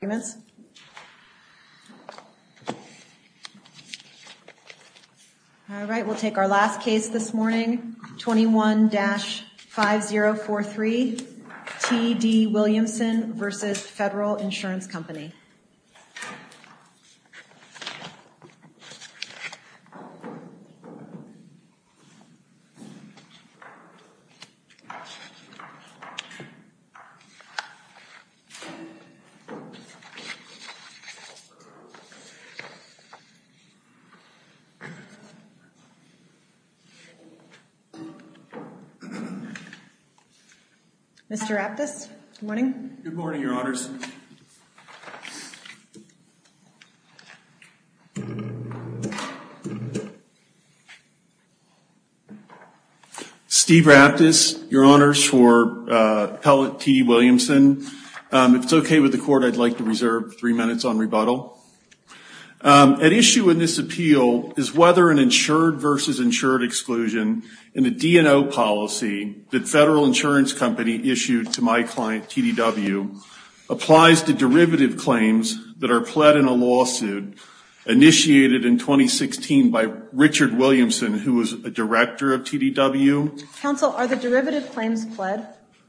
All right, we'll take our last case this morning, 21-5043, T. D. Williamson v. Federal Insurance Company. Mr. Raptus, good morning. Good morning, Your Honors. Steve Raptus, Your Honors, for appellate T. D. Williamson. If it's OK with the court, I'd like to reserve three minutes on rebuttal. At issue in this appeal is whether an insured versus insured exclusion in the D&O policy that Federal Insurance Company issued to my client, T. D. W., applies to derivative claims that are pled in a lawsuit initiated in 2016 by Richard Williamson, who was a director of T. D. W. Counsel, are the derivative claims pled?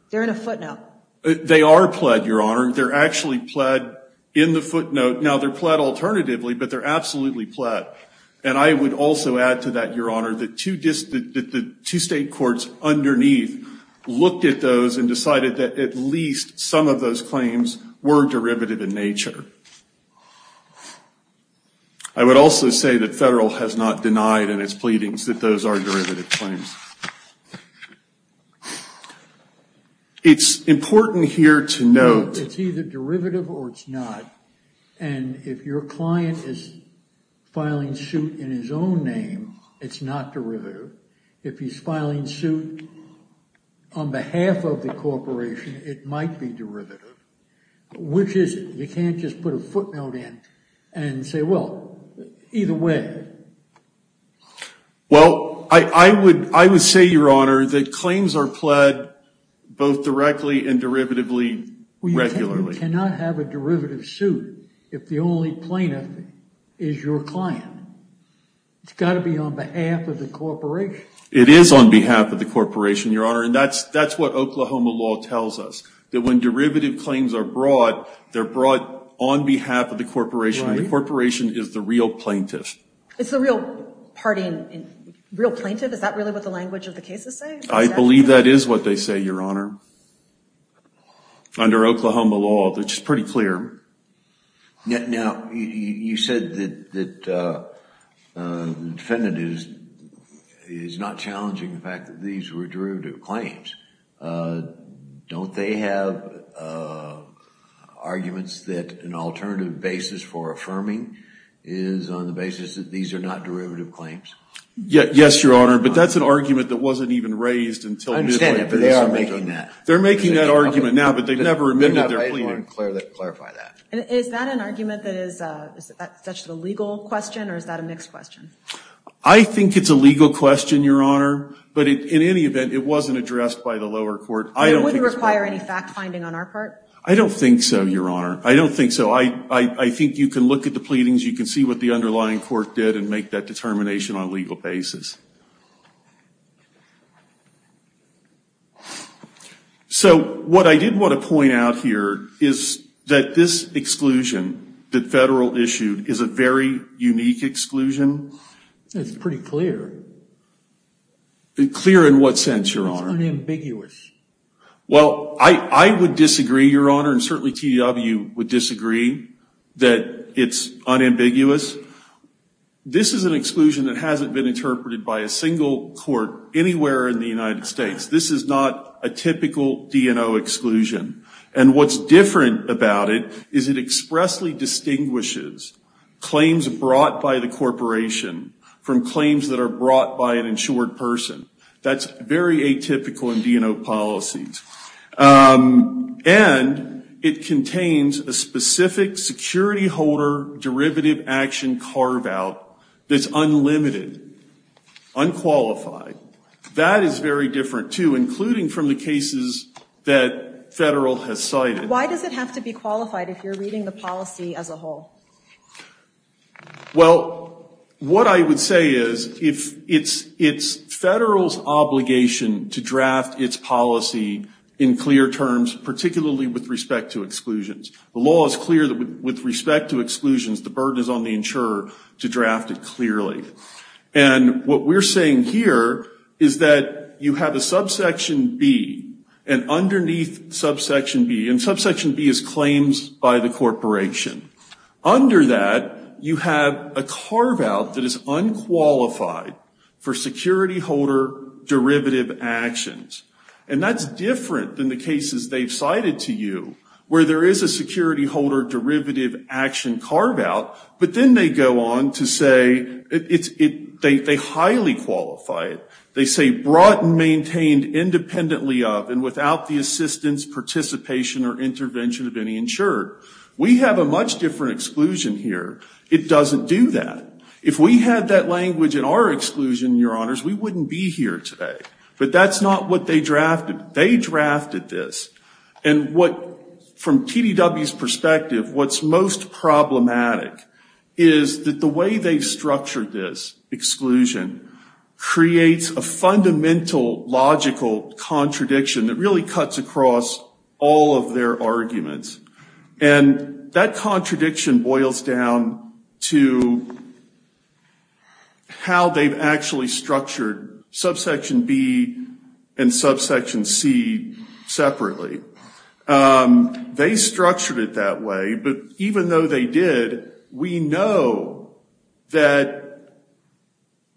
They're in a footnote. They are pled, Your Honor. They're actually pled in the footnote. Now, they're pled alternatively, but they're absolutely pled. And I would also add to that, Your Honor, that the two state courts underneath looked at those and decided that at least some of those claims were derivative in nature. I would also say that Federal has not denied in its pleadings that those are derivative claims. It's important here to note. It's either derivative or it's not. And if your client is filing suit in his own name, it's not derivative. If he's filing suit on behalf of the corporation, it might be derivative. Which is it? You can't just put a footnote in and say, well, either way. Well, I would say, Your Honor, that claims are pled both directly and derivatively regularly. You cannot have a derivative suit if the only plaintiff is your client. It's got to be on behalf of the corporation. It is on behalf of the corporation, Your Honor. And that's what Oklahoma law tells us, that when derivative claims are brought, they're brought on behalf of the corporation. The corporation is the real plaintiff. It's the real party and real plaintiff? Is that really what the language of the case is saying? I believe that is what they say, Your Honor. Under Oklahoma law, which is pretty clear. Now, you said that the defendant is not challenging the fact that these were derivative claims. Don't they have arguments that an alternative basis for affirming is on the basis that these are not derivative claims? Yes, Your Honor. But that's an argument that wasn't even raised until this point. I understand that, but they are making that. They're making that argument now, but they've never amended their plea. Let me clarify that. Is that an argument that is such a legal question, or is that a mixed question? I think it's a legal question, Your Honor, but in any event, it wasn't addressed by the lower court. It wouldn't require any fact-finding on our part? I don't think so, Your Honor. I don't think so. I think you can look at the pleadings. You can see what the underlying court did and make that determination on a legal basis. So what I did want to point out here is that this exclusion that Federal issued is a very unique exclusion. It's pretty clear. Clear in what sense, Your Honor? It's unambiguous. Well, I would disagree, Your Honor, and certainly TDW would disagree that it's unambiguous. This is an exclusion that hasn't been interpreted by a single court anywhere in the United States. This is not a typical DNO exclusion, and what's different about it is it expressly distinguishes claims brought by the corporation from claims that are brought by an insured person. That's very atypical in DNO policies, and it contains a specific security holder derivative action carve-out that's unlimited, unqualified. That is very different, too, including from the cases that Federal has cited. Why does it have to be qualified if you're reading the policy as a whole? Well, what I would say is it's Federal's obligation to draft its policy in clear terms, particularly with respect to exclusions. The law is clear that with respect to exclusions, the burden is on the insurer to draft it clearly. And what we're saying here is that you have a subsection B, and underneath subsection B, and subsection B is claims by the corporation. Under that, you have a carve-out that is unqualified for security holder derivative actions. And that's different than the cases they've cited to you, where there is a security holder derivative action carve-out, but then they go on to say they highly qualify it. They say brought and maintained independently of and without the assistance, participation, or intervention of any insured. We have a much different exclusion here. It doesn't do that. If we had that language in our exclusion, your honors, we wouldn't be here today. But that's not what they drafted. They drafted this. And from TDW's perspective, what's most problematic is that the way they structured this exclusion creates a fundamental logical contradiction that really cuts across all of their arguments. And that contradiction boils down to how they've actually structured subsection B and subsection C separately. They structured it that way, but even though they did, we know that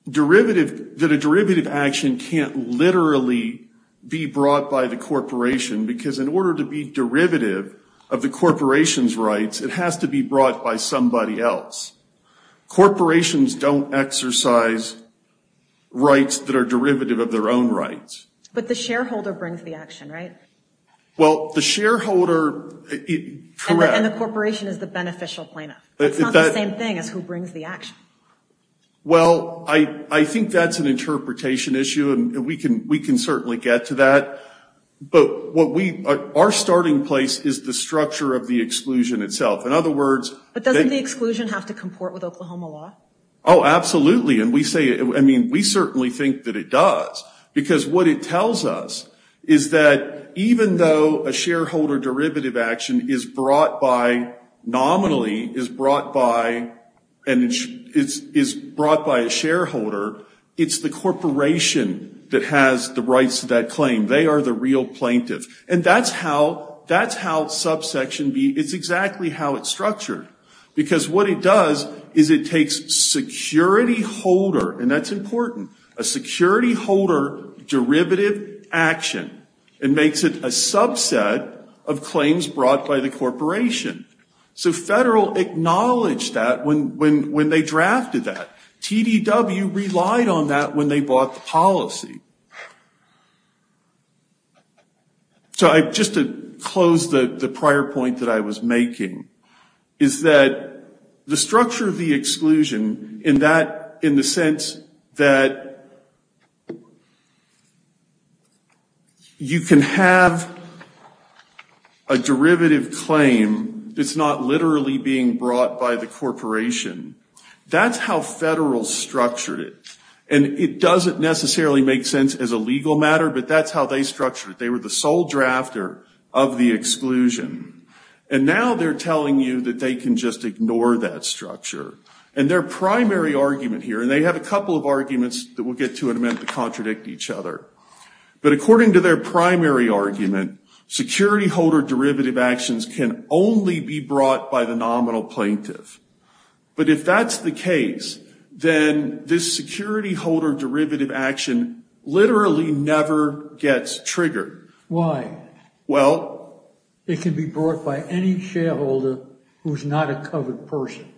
a derivative action can't literally be brought by the corporation. Because in order to be derivative of the corporation's rights, it has to be brought by somebody else. Corporations don't exercise rights that are derivative of their own rights. But the shareholder brings the action, right? Well, the shareholder, correct. And the corporation is the beneficial plaintiff. It's not the same thing as who brings the action. Well, I think that's an interpretation issue, and we can certainly get to that. But our starting place is the structure of the exclusion itself. In other words... But doesn't the exclusion have to comport with Oklahoma law? Oh, absolutely. And we say, I mean, we certainly think that it does. Because what it tells us is that even though a shareholder derivative action is brought by, nominally is brought by a shareholder, it's the corporation that has the rights to that claim. They are the real plaintiff. And that's how subsection B, it's exactly how it's structured. Because what it does is it takes security holder, and that's important. A security holder derivative action. It makes it a subset of claims brought by the corporation. So federal acknowledged that when they drafted that. TDW relied on that when they bought the policy. So just to close the prior point that I was making, is that the structure of the exclusion in that, in the sense that you can have a derivative claim that's not literally being brought by the corporation. That's how federal structured it. And it doesn't necessarily make sense as a legal matter, but that's how they structured it. They were the sole drafter of the exclusion. And now they're telling you that they can just ignore that structure. And their primary argument here, and they have a couple of arguments that we'll get to in a minute that contradict each other. But according to their primary argument, security holder derivative actions can only be brought by the nominal plaintiff. But if that's the case, then this security holder derivative action literally never gets triggered. Why? Well, it can be brought by any shareholder who's not a covered person.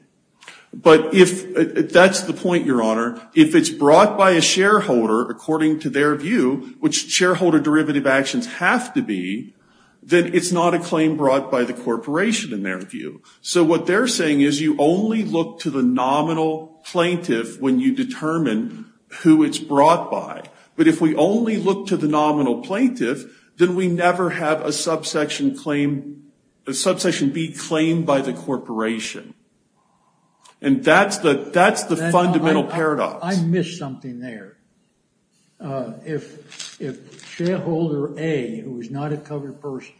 But if that's the point, your honor, if it's brought by a shareholder according to their view, which shareholder derivative actions have to be, then it's not a claim brought by the corporation in their view. So what they're saying is you only look to the nominal plaintiff when you determine who it's brought by. But if we only look to the nominal plaintiff, then we never have a subsection claim, a subsection be claimed by the corporation. And that's the fundamental paradox. I missed something there. If shareholder A, who is not a covered person,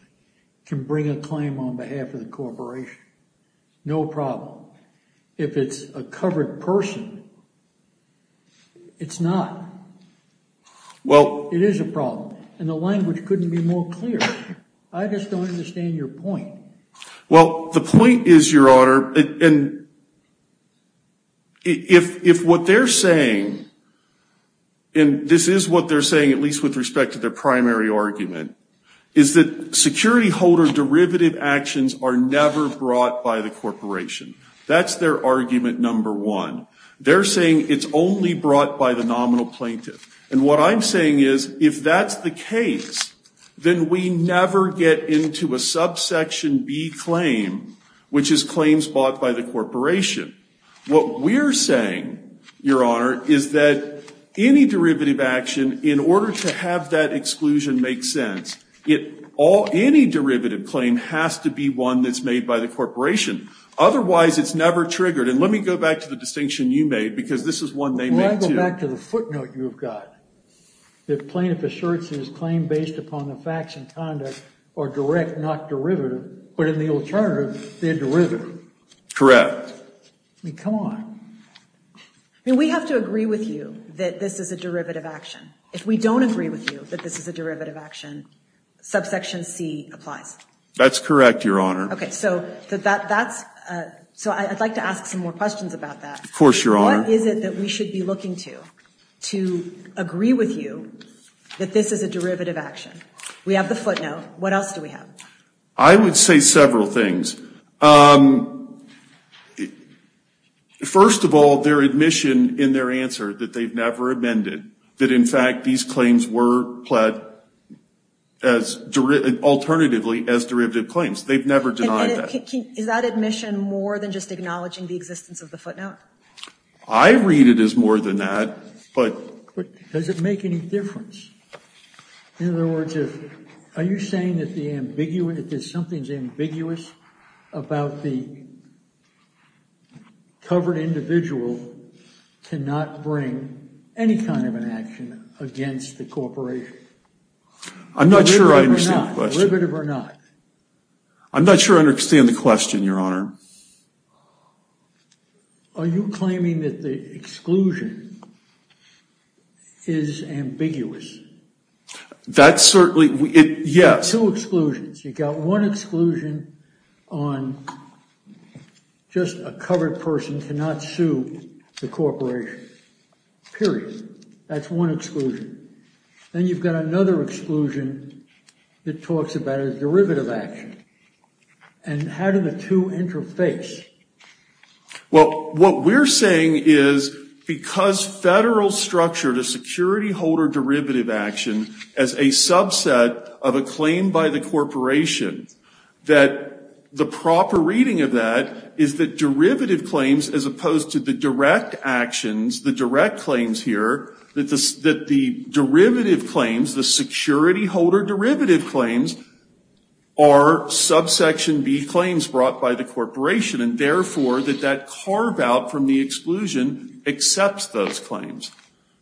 can bring a claim on behalf of the corporation, no problem. If it's a covered person, it's not. Well, it is a problem. And the language couldn't be more clear. I just don't understand your point. Well, the point is, your honor, and if what they're saying, and this is what they're saying, at least with respect to their primary argument, is that security holder derivative actions are never brought by the corporation. That's their argument number one. They're saying it's only brought by the nominal plaintiff. And what I'm saying is, if that's the case, then we never get into a subsection B claim, which is claims bought by the corporation. What we're saying, your honor, is that any derivative action, in order to have that exclusion make sense, any derivative claim has to be one that's made by the corporation. Otherwise, it's never triggered. And let me go back to the distinction you made, because this is one they made, too. Well, I go back to the footnote you've got, that plaintiff assurances claim based upon the facts and conduct are direct, not derivative. But in the alternative, they're derivative. Correct. I mean, come on. I mean, we have to agree with you that this is a derivative action. If we don't agree with you that this is a derivative action, subsection C applies. That's correct, your honor. OK, so I'd like to ask some more questions about that. Of course, your honor. What is it that we should be looking to, to agree with you that this is a derivative action? We have the footnote. What else do we have? I would say several things. First of all, their admission in their answer that they've never amended, that in fact, these claims were pled as alternatively as derivative claims. They've never denied that. Is that admission more than just acknowledging the existence of the footnote? I read it as more than that. But does it make any difference? In other words, are you saying that something's ambiguous about the covered individual to not bring any kind of an action against the corporation? I'm not sure I understand the question. Derivative or not? I'm not sure I understand the question, your honor. Are you claiming that the exclusion is ambiguous? That's certainly, yes. Two exclusions. You've got one exclusion on just a covered person cannot sue the corporation, period. That's one exclusion. Then you've got another exclusion that talks about a derivative action. And how do the two interface? Well, what we're saying is because federal structure to security holder derivative action as a subset of a claim by the corporation, that the proper reading of that is that derivative claims as opposed to the direct actions, the direct claims here, that the derivative claims, the security holder derivative claims, are subsection B claims brought by the corporation. And therefore, that that carve out from the exclusion accepts those claims.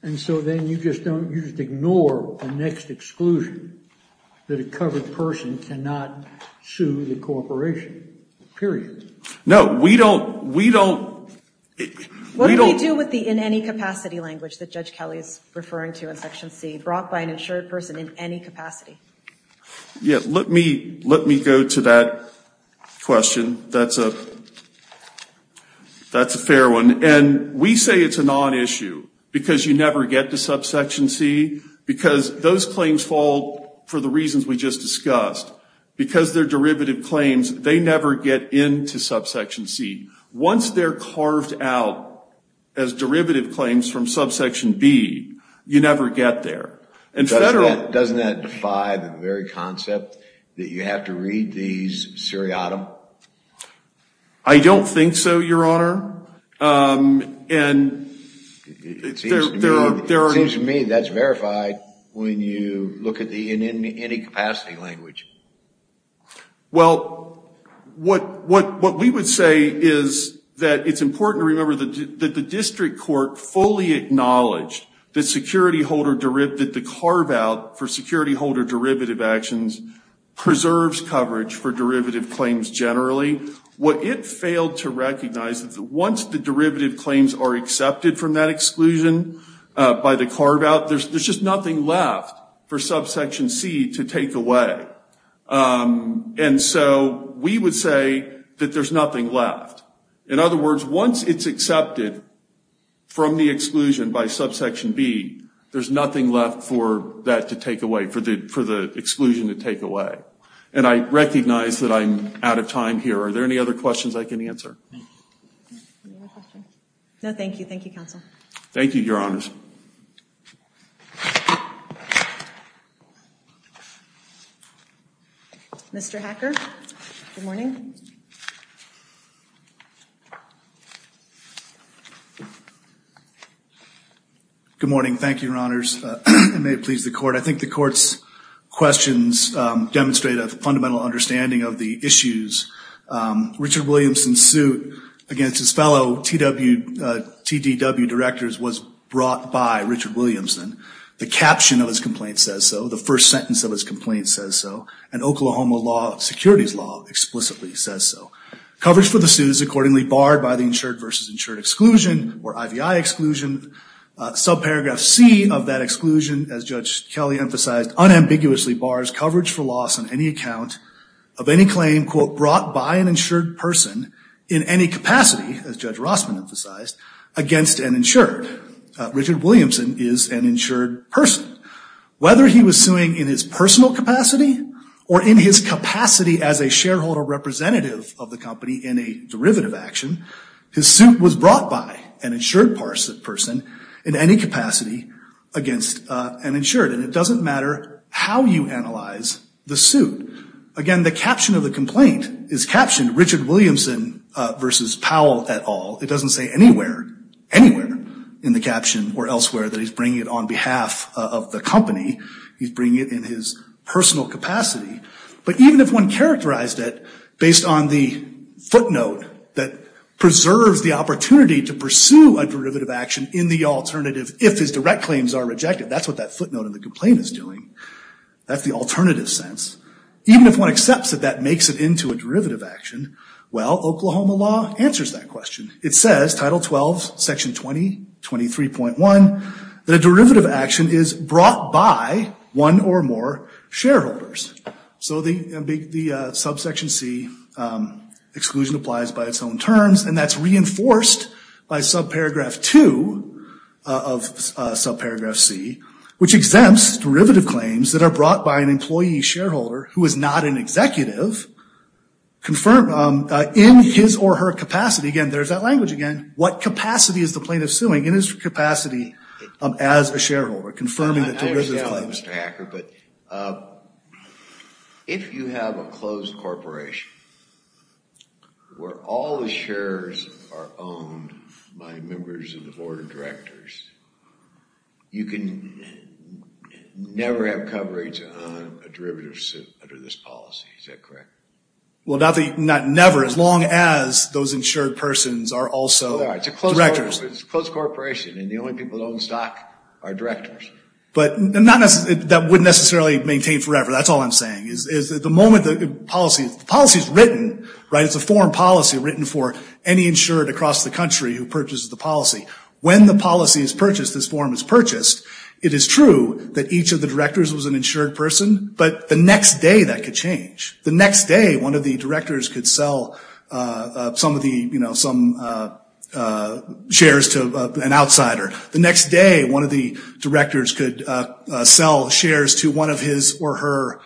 And so then you just ignore the next exclusion, that a covered person cannot sue the corporation, period. No, we don't. What do we do with the in any capacity language that Judge Kelly is referring to in Section C brought by an insured person in any capacity? Yeah, let me go to that question. That's a fair one. And we say it's a non-issue because you never get to subsection C because those claims fall for the reasons we just discussed. Because they're derivative claims, they never get into subsection C. Once they're carved out as derivative claims from subsection B, you never get there. And federal... Doesn't that defy the very concept that you have to read these seriatim? I don't think so, Your Honor. And there are... It seems to me that's verified when you look at the in any capacity language. Well, what we would say is that it's important to remember that the district court fully acknowledged that security holder derivative, the carve out for security holder derivative actions preserves coverage for derivative claims generally. What it failed to recognize is that once the derivative claims are accepted from that exclusion by the carve out, there's just nothing left for subsection C to take away. And so we would say that there's nothing left. In other words, once it's accepted from the exclusion by subsection B, there's nothing left for that to take away, for the exclusion to take away. And I recognize that I'm out of time here. Are there any other questions I can answer? No, thank you. Thank you, counsel. Thank you, Your Honors. Mr. Hacker, good morning. Good morning. Thank you, Your Honors. May it please the court. I think the court's questions demonstrate a fundamental understanding of the issues. Richard Williamson's suit against his fellow TDW directors was brought by Richard Williamson. The caption of his complaint says so. The first sentence of his complaint says so. And Oklahoma law, securities law, explicitly says so. Coverage for the suit is accordingly barred by the insured versus insured exclusion or IVI exclusion. Subparagraph C of that exclusion, as Judge Kelly emphasized, unambiguously bars coverage for loss on any account of any claim, quote, brought by an insured person in any capacity, as Judge Rossman emphasized, against an insured. Richard Williamson is an insured person. Whether he was suing in his personal capacity or in his capacity as a shareholder representative of the company in a derivative action, his suit was brought by an insured person in any capacity against an insured. And it doesn't matter how you analyze the suit. Again, the caption of the complaint is captioned Richard Williamson versus Powell et al. It doesn't say anywhere, anywhere in the caption or elsewhere that he's bringing it on behalf of the company. He's bringing it in his personal capacity. But even if one characterized it based on the footnote that preserves the opportunity to pursue a derivative action in the alternative if his direct claims are rejected. That's what that footnote in the complaint is doing. That's the alternative sense. Even if one accepts that that makes it into a derivative action, well, Oklahoma law answers that question. It says, Title 12, Section 20, 23.1, that a derivative action is brought by one or more shareholders. So the subsection C exclusion applies by its own terms, and that's reinforced by subparagraph 2 of subparagraph C, which exempts derivative claims that are brought by an employee shareholder who is not an executive in his or her capacity. Again, there's that language again. What capacity is the plaintiff suing? In his capacity as a shareholder, confirming the derivative claims. Mr. Hacker, but if you have a closed corporation where all the shares are owned by members of the board of directors, you can never have coverage on a derivative suit under this policy. Is that correct? Well, not never, as long as those insured persons are also directors. It's a closed corporation, and the only people that own stock are directors. But that wouldn't necessarily maintain forever. That's all I'm saying, is that the moment the policy is written, right, it's a foreign policy written for any insured across the country who purchases the policy. When the policy is purchased, this form is purchased, it is true that each of the directors was an insured person, but the next day that could change. The next day, one of the directors could sell some of the, you know, some shares to an outsider. The next day, one of the directors could sell shares to one of his or her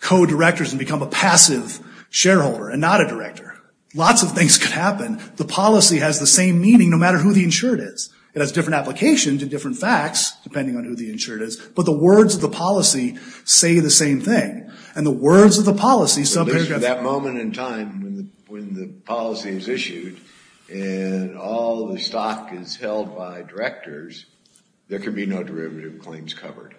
co-directors and become a passive shareholder and not a director. Lots of things could happen. The policy has the same meaning, no matter who the insured is. It has different applications and different facts, depending on who the insured is, but the words of the policy say the same thing. And the words of the policy... At that moment in time, when the policy is issued, and all the stock is held by directors, there could be no derivative claims covered.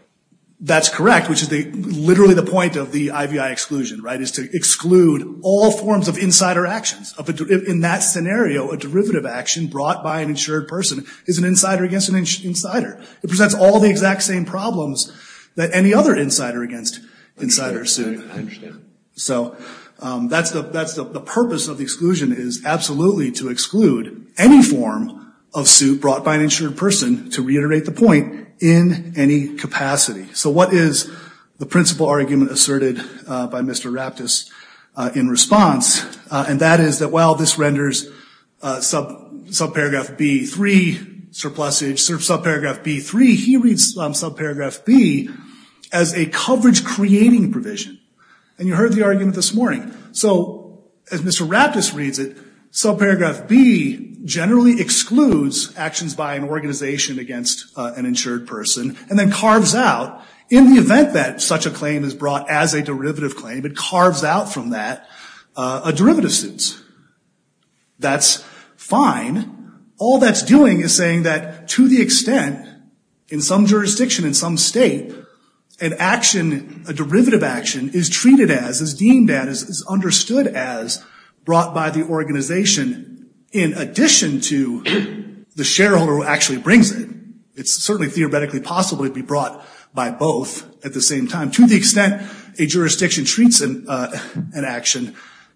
That's correct, which is literally the point of the IVI exclusion, right, is to exclude all forms of insider actions. In that scenario, a derivative action brought by an insured person is an insider against an insider. It presents all the exact same problems that any other insider against insider... I understand. So that's the purpose of the exclusion, is absolutely to exclude any form of suit brought by an insured person to reiterate the point in any capacity. So what is the principal argument asserted by Mr. Raptus in response? And that is that while this renders subparagraph B-3, surplusage, subparagraph B-3, he reads subparagraph B as a coverage-creating provision. And you heard the argument this morning. So as Mr. Raptus reads it, subparagraph B generally excludes actions by an organization against an insured person and then carves out, in the event that such a claim is brought as a derivative claim, it carves out from that a derivative suit. That's fine. All that's doing is saying that to the extent in some jurisdiction, in some state, an action, a derivative action, is treated as, is deemed as, is understood as brought by the organization in addition to the shareholder who actually brings it. It's certainly theoretically possible it'd be brought by both at the same time. To the extent a jurisdiction treats an action,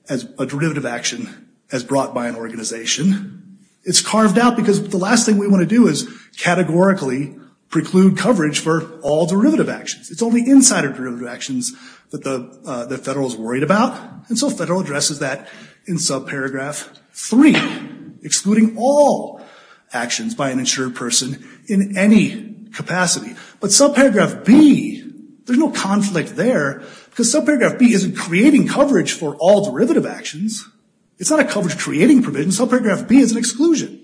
a derivative action, as brought by an organization, it's carved out because the last thing we want to do is categorically preclude coverage for all derivative actions. It's only insider derivative actions that the federal is worried about. And so federal addresses that in subparagraph 3, excluding all actions by an insured person in any capacity. But subparagraph B, there's no conflict there because subparagraph B isn't creating coverage for all derivative actions. It's not a coverage-creating provision. Subparagraph B is an exclusion.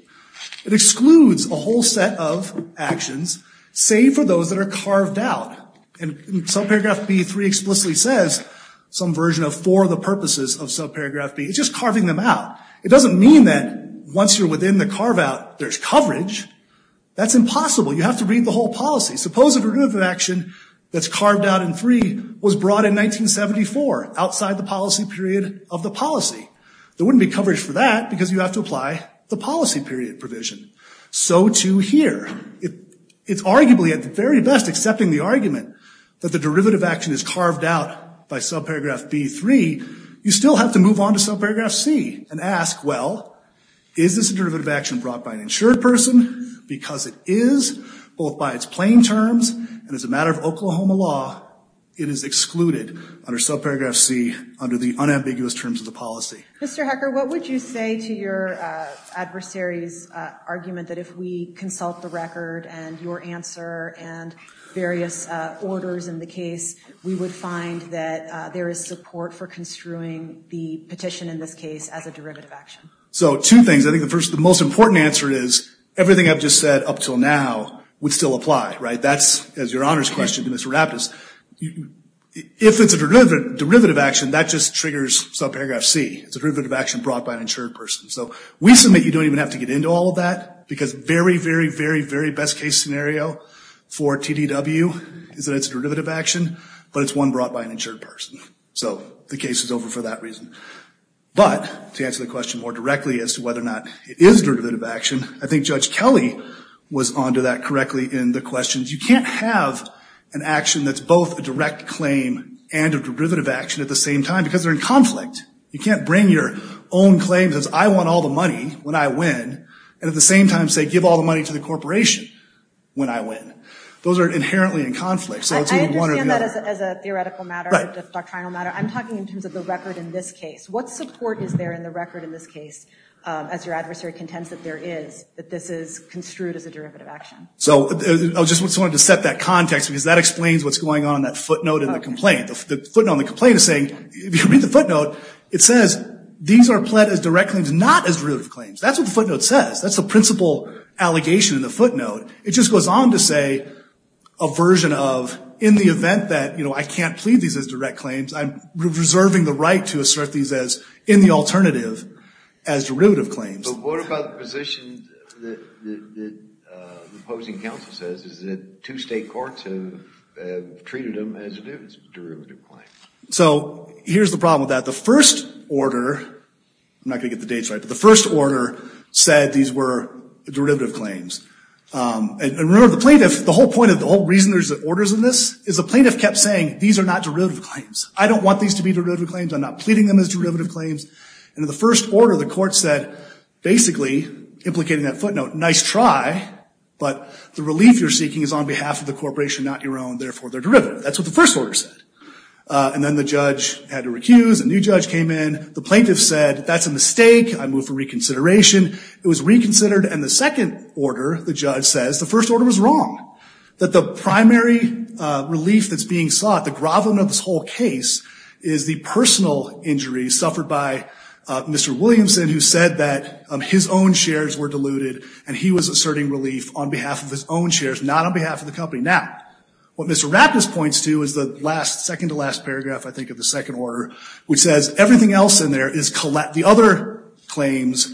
It excludes a whole set of actions, save for those that are carved out. And subparagraph B3 explicitly says some version of for the purposes of subparagraph B. It's just carving them out. It doesn't mean that once you're within the carve-out, there's coverage. That's impossible. You have to read the whole policy. Suppose a derivative action that's carved out in 3 was brought in 1974, outside the policy period of the policy. There wouldn't be coverage for that because you have to apply the policy period provision. So too here. It's arguably at the very best accepting the argument that the derivative action is carved out by subparagraph B3. You still have to move on to subparagraph C and ask, well, is this a derivative action brought by an insured person? Because it is, both by its plain terms and as a matter of Oklahoma law, it is excluded under subparagraph C under the unambiguous terms of the policy. Mr. Hecker, what would you say to your adversary's argument that if we consult the record and your answer and various orders in the case, we would find that there is support for construing the petition in this case as a derivative action? So two things. I think the first, the most important answer is everything I've just said up till now would still apply, right? That's, as your honor's question to Mr. Raptus, if it's a derivative action, that just triggers subparagraph C. It's a derivative action brought by an insured person. So we submit you don't even have to get into all of that because very, very, very, very best case scenario for TDW is that it's a derivative action, but it's one brought by an insured person. So the case is over for that reason. But to answer the question more directly as to whether or not it is derivative action, I think Judge Kelly was onto that correctly in the questions. You can't have an action that's both a direct claim and a derivative action at the same time because they're in conflict. You can't bring your own claims as I want all the money when I win and at the same time say give all the money to the corporation when I win. Those are inherently in conflict. So it's either one or the other. I understand that as a theoretical matter, a doctrinal matter. I'm talking in terms of the record in this case. What support is there in the record in this case as your adversary contends that there is, that this is construed as a derivative action? So I just wanted to set that context because that explains what's going on in that footnote in the complaint. The footnote in the complaint is saying, if you read the footnote, it says these are pled as direct claims, not as derivative claims. That's what the footnote says. That's the principal allegation in the footnote. It just goes on to say a version of, in the event that I can't plead these as direct claims, I'm reserving the right to assert these as, in the alternative, as derivative claims. But what about the position that the opposing counsel says is that two state courts have treated them as a derivative claim? So here's the problem with that. The first order, I'm not going to get the dates right, but the first order said these were derivative claims. And remember, the plaintiff, the whole point of, the whole reason there's orders in this is the plaintiff kept saying, these are not derivative claims. I don't want these to be derivative claims. I'm not pleading them as derivative claims. And in the first order, the court said, basically, implicating that footnote, nice try, but the relief you're seeking is on behalf of the corporation, not your own. Therefore, they're derivative. That's what the first order said. And then the judge had to recuse. A new judge came in. The plaintiff said, that's a mistake. I move for reconsideration. It was reconsidered. And the second order, the judge says, the first order was wrong. That the primary relief that's being sought, the gravum of this whole case, is the personal injury suffered by Mr. Williamson, who said that his own shares were diluted. And he was asserting relief on behalf of his own shares, not on behalf of the company. Now, what Mr. Raptis points to is the second to last paragraph, I think, of the second order, which says, everything else in there is collateral. The other claims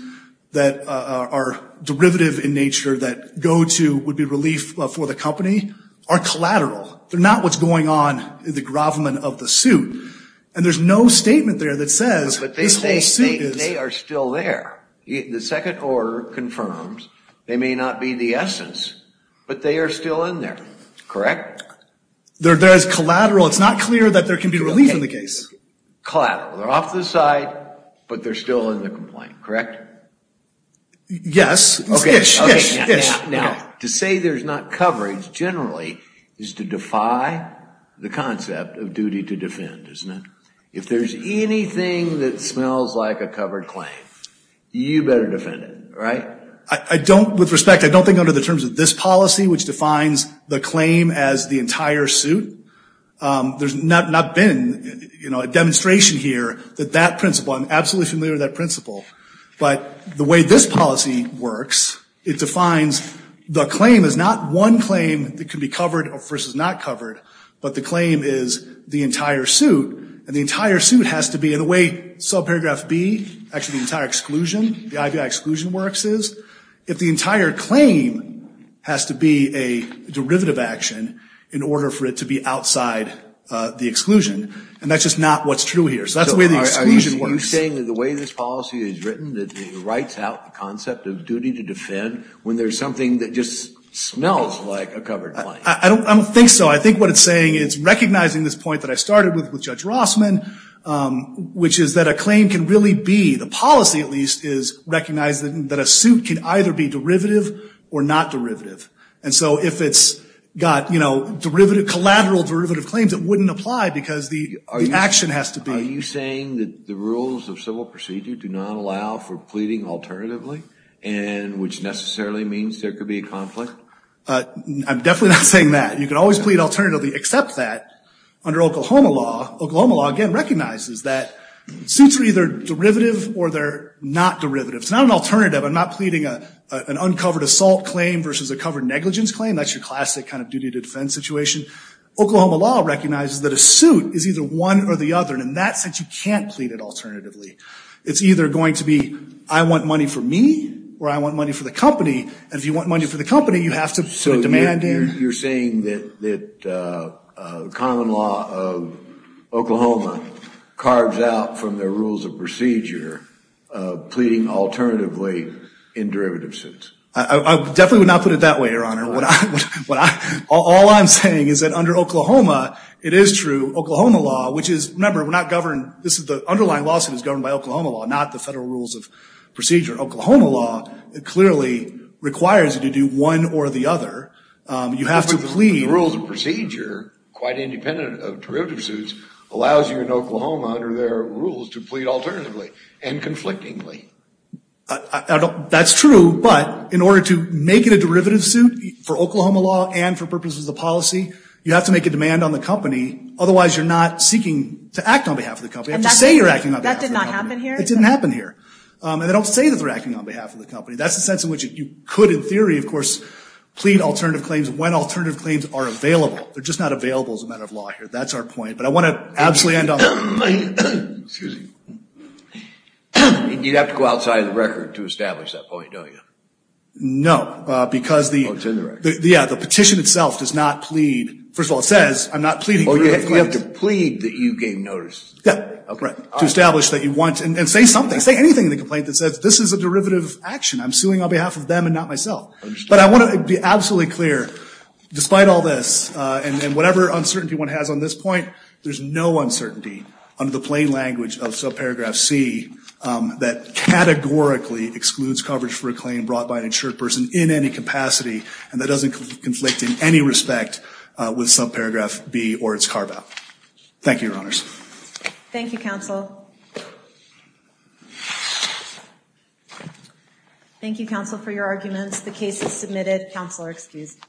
that are derivative in nature, that go to, would be relief for the company, are collateral. They're not what's going on in the gravum of the suit. And there's no statement there that says, this whole suit is. They are still there. The second order confirms, they may not be the essence, but they are still in there. Correct? There is collateral. It's not clear that there can be relief in the case. Collateral. They're off the site, but they're still in the complaint. Correct? Yes. It's ish, ish, ish. Now, to say there's not coverage, generally, is to defy the concept of duty to defend, isn't it? If there's anything that smells like a covered claim, you better defend it, right? I don't, with respect, I don't think under the terms of this policy, which defines the claim as the entire suit, there's not been, you know, a demonstration here that that principle, I'm absolutely familiar with that principle. But the way this policy works, it defines the claim is not one claim that can be covered versus not covered. But the claim is the entire suit. And the entire suit has to be in the way, subparagraph B, actually the entire exclusion, the IBI exclusion works is, if the entire claim has to be a derivative action in order for it to be outside the exclusion. And that's just not what's true here. So that's the way the exclusion works. Are you saying that the way this policy is written, that it writes out the concept of duty to defend when there's something that just smells like a covered claim? I don't think so. I think what it's saying is recognizing this point that I started with Judge Rossman, which is that a claim can really be, the policy at least, is recognizing that a suit can either be derivative or not derivative. And so if it's got, you know, derivative, collateral derivative claims, it wouldn't apply because the action has to be. Are you saying that the rules of civil procedure do not allow for pleading alternatively, and which necessarily means there could be a conflict? I'm definitely not saying that. You can always plead alternatively, except that under Oklahoma law, Oklahoma law again recognizes that suits are either derivative or they're not derivative. It's not an alternative. I'm not pleading an uncovered assault claim versus a covered negligence claim. That's your classic kind of duty to defend situation. Oklahoma law recognizes that a suit is either one or the other, and in that sense, you can't plead it alternatively. It's either going to be, I want money for me, or I want money for the company, and if you want money for the company, you have to put demand in. So you're saying that common law of Oklahoma carves out from their rules of procedure, pleading alternatively in derivative suits? I definitely would not put it that way, Your Honor. All I'm saying is that under Oklahoma, it is true, Oklahoma law, which is, remember, we're not governed, the underlying lawsuit is governed by Oklahoma law, not the federal rules of procedure. Oklahoma law clearly requires you to do one or the other. You have to plead. The rules of procedure, quite independent of derivative suits, allows you in Oklahoma under their rules to plead alternatively and conflictingly. That's true, but in order to make it a derivative suit for Oklahoma law and for purposes of the policy, you have to make a demand on the company. Otherwise, you're not seeking to act on behalf of the company. I have to say you're acting on behalf of the company. That did not happen here? It didn't happen here. And they don't say that they're acting on behalf of the company. That's the sense in which you could, in theory, of course, plead alternative claims when alternative claims are available. They're just not available as a matter of law here. That's our point. But I want to absolutely end on that point. Excuse me. You'd have to go outside of the record to establish that point, don't you? No, because the petition itself does not plead. First of all, it says I'm not pleading. Well, you have to plead that you gave notice. Yeah, to establish that you want and say something, say anything in the complaint that says this is a derivative action. I'm suing on behalf of them and not myself. But I want to be absolutely clear, despite all this and whatever uncertainty one has on this point, there's no uncertainty under the plain language of subparagraph C that categorically excludes coverage for a claim brought by an insured person in any capacity. And that doesn't conflict in any respect with subparagraph B or its carve-out. Thank you, Your Honors. Thank you, counsel. Thank you, counsel, for your arguments. The case is submitted. Counsel are excused.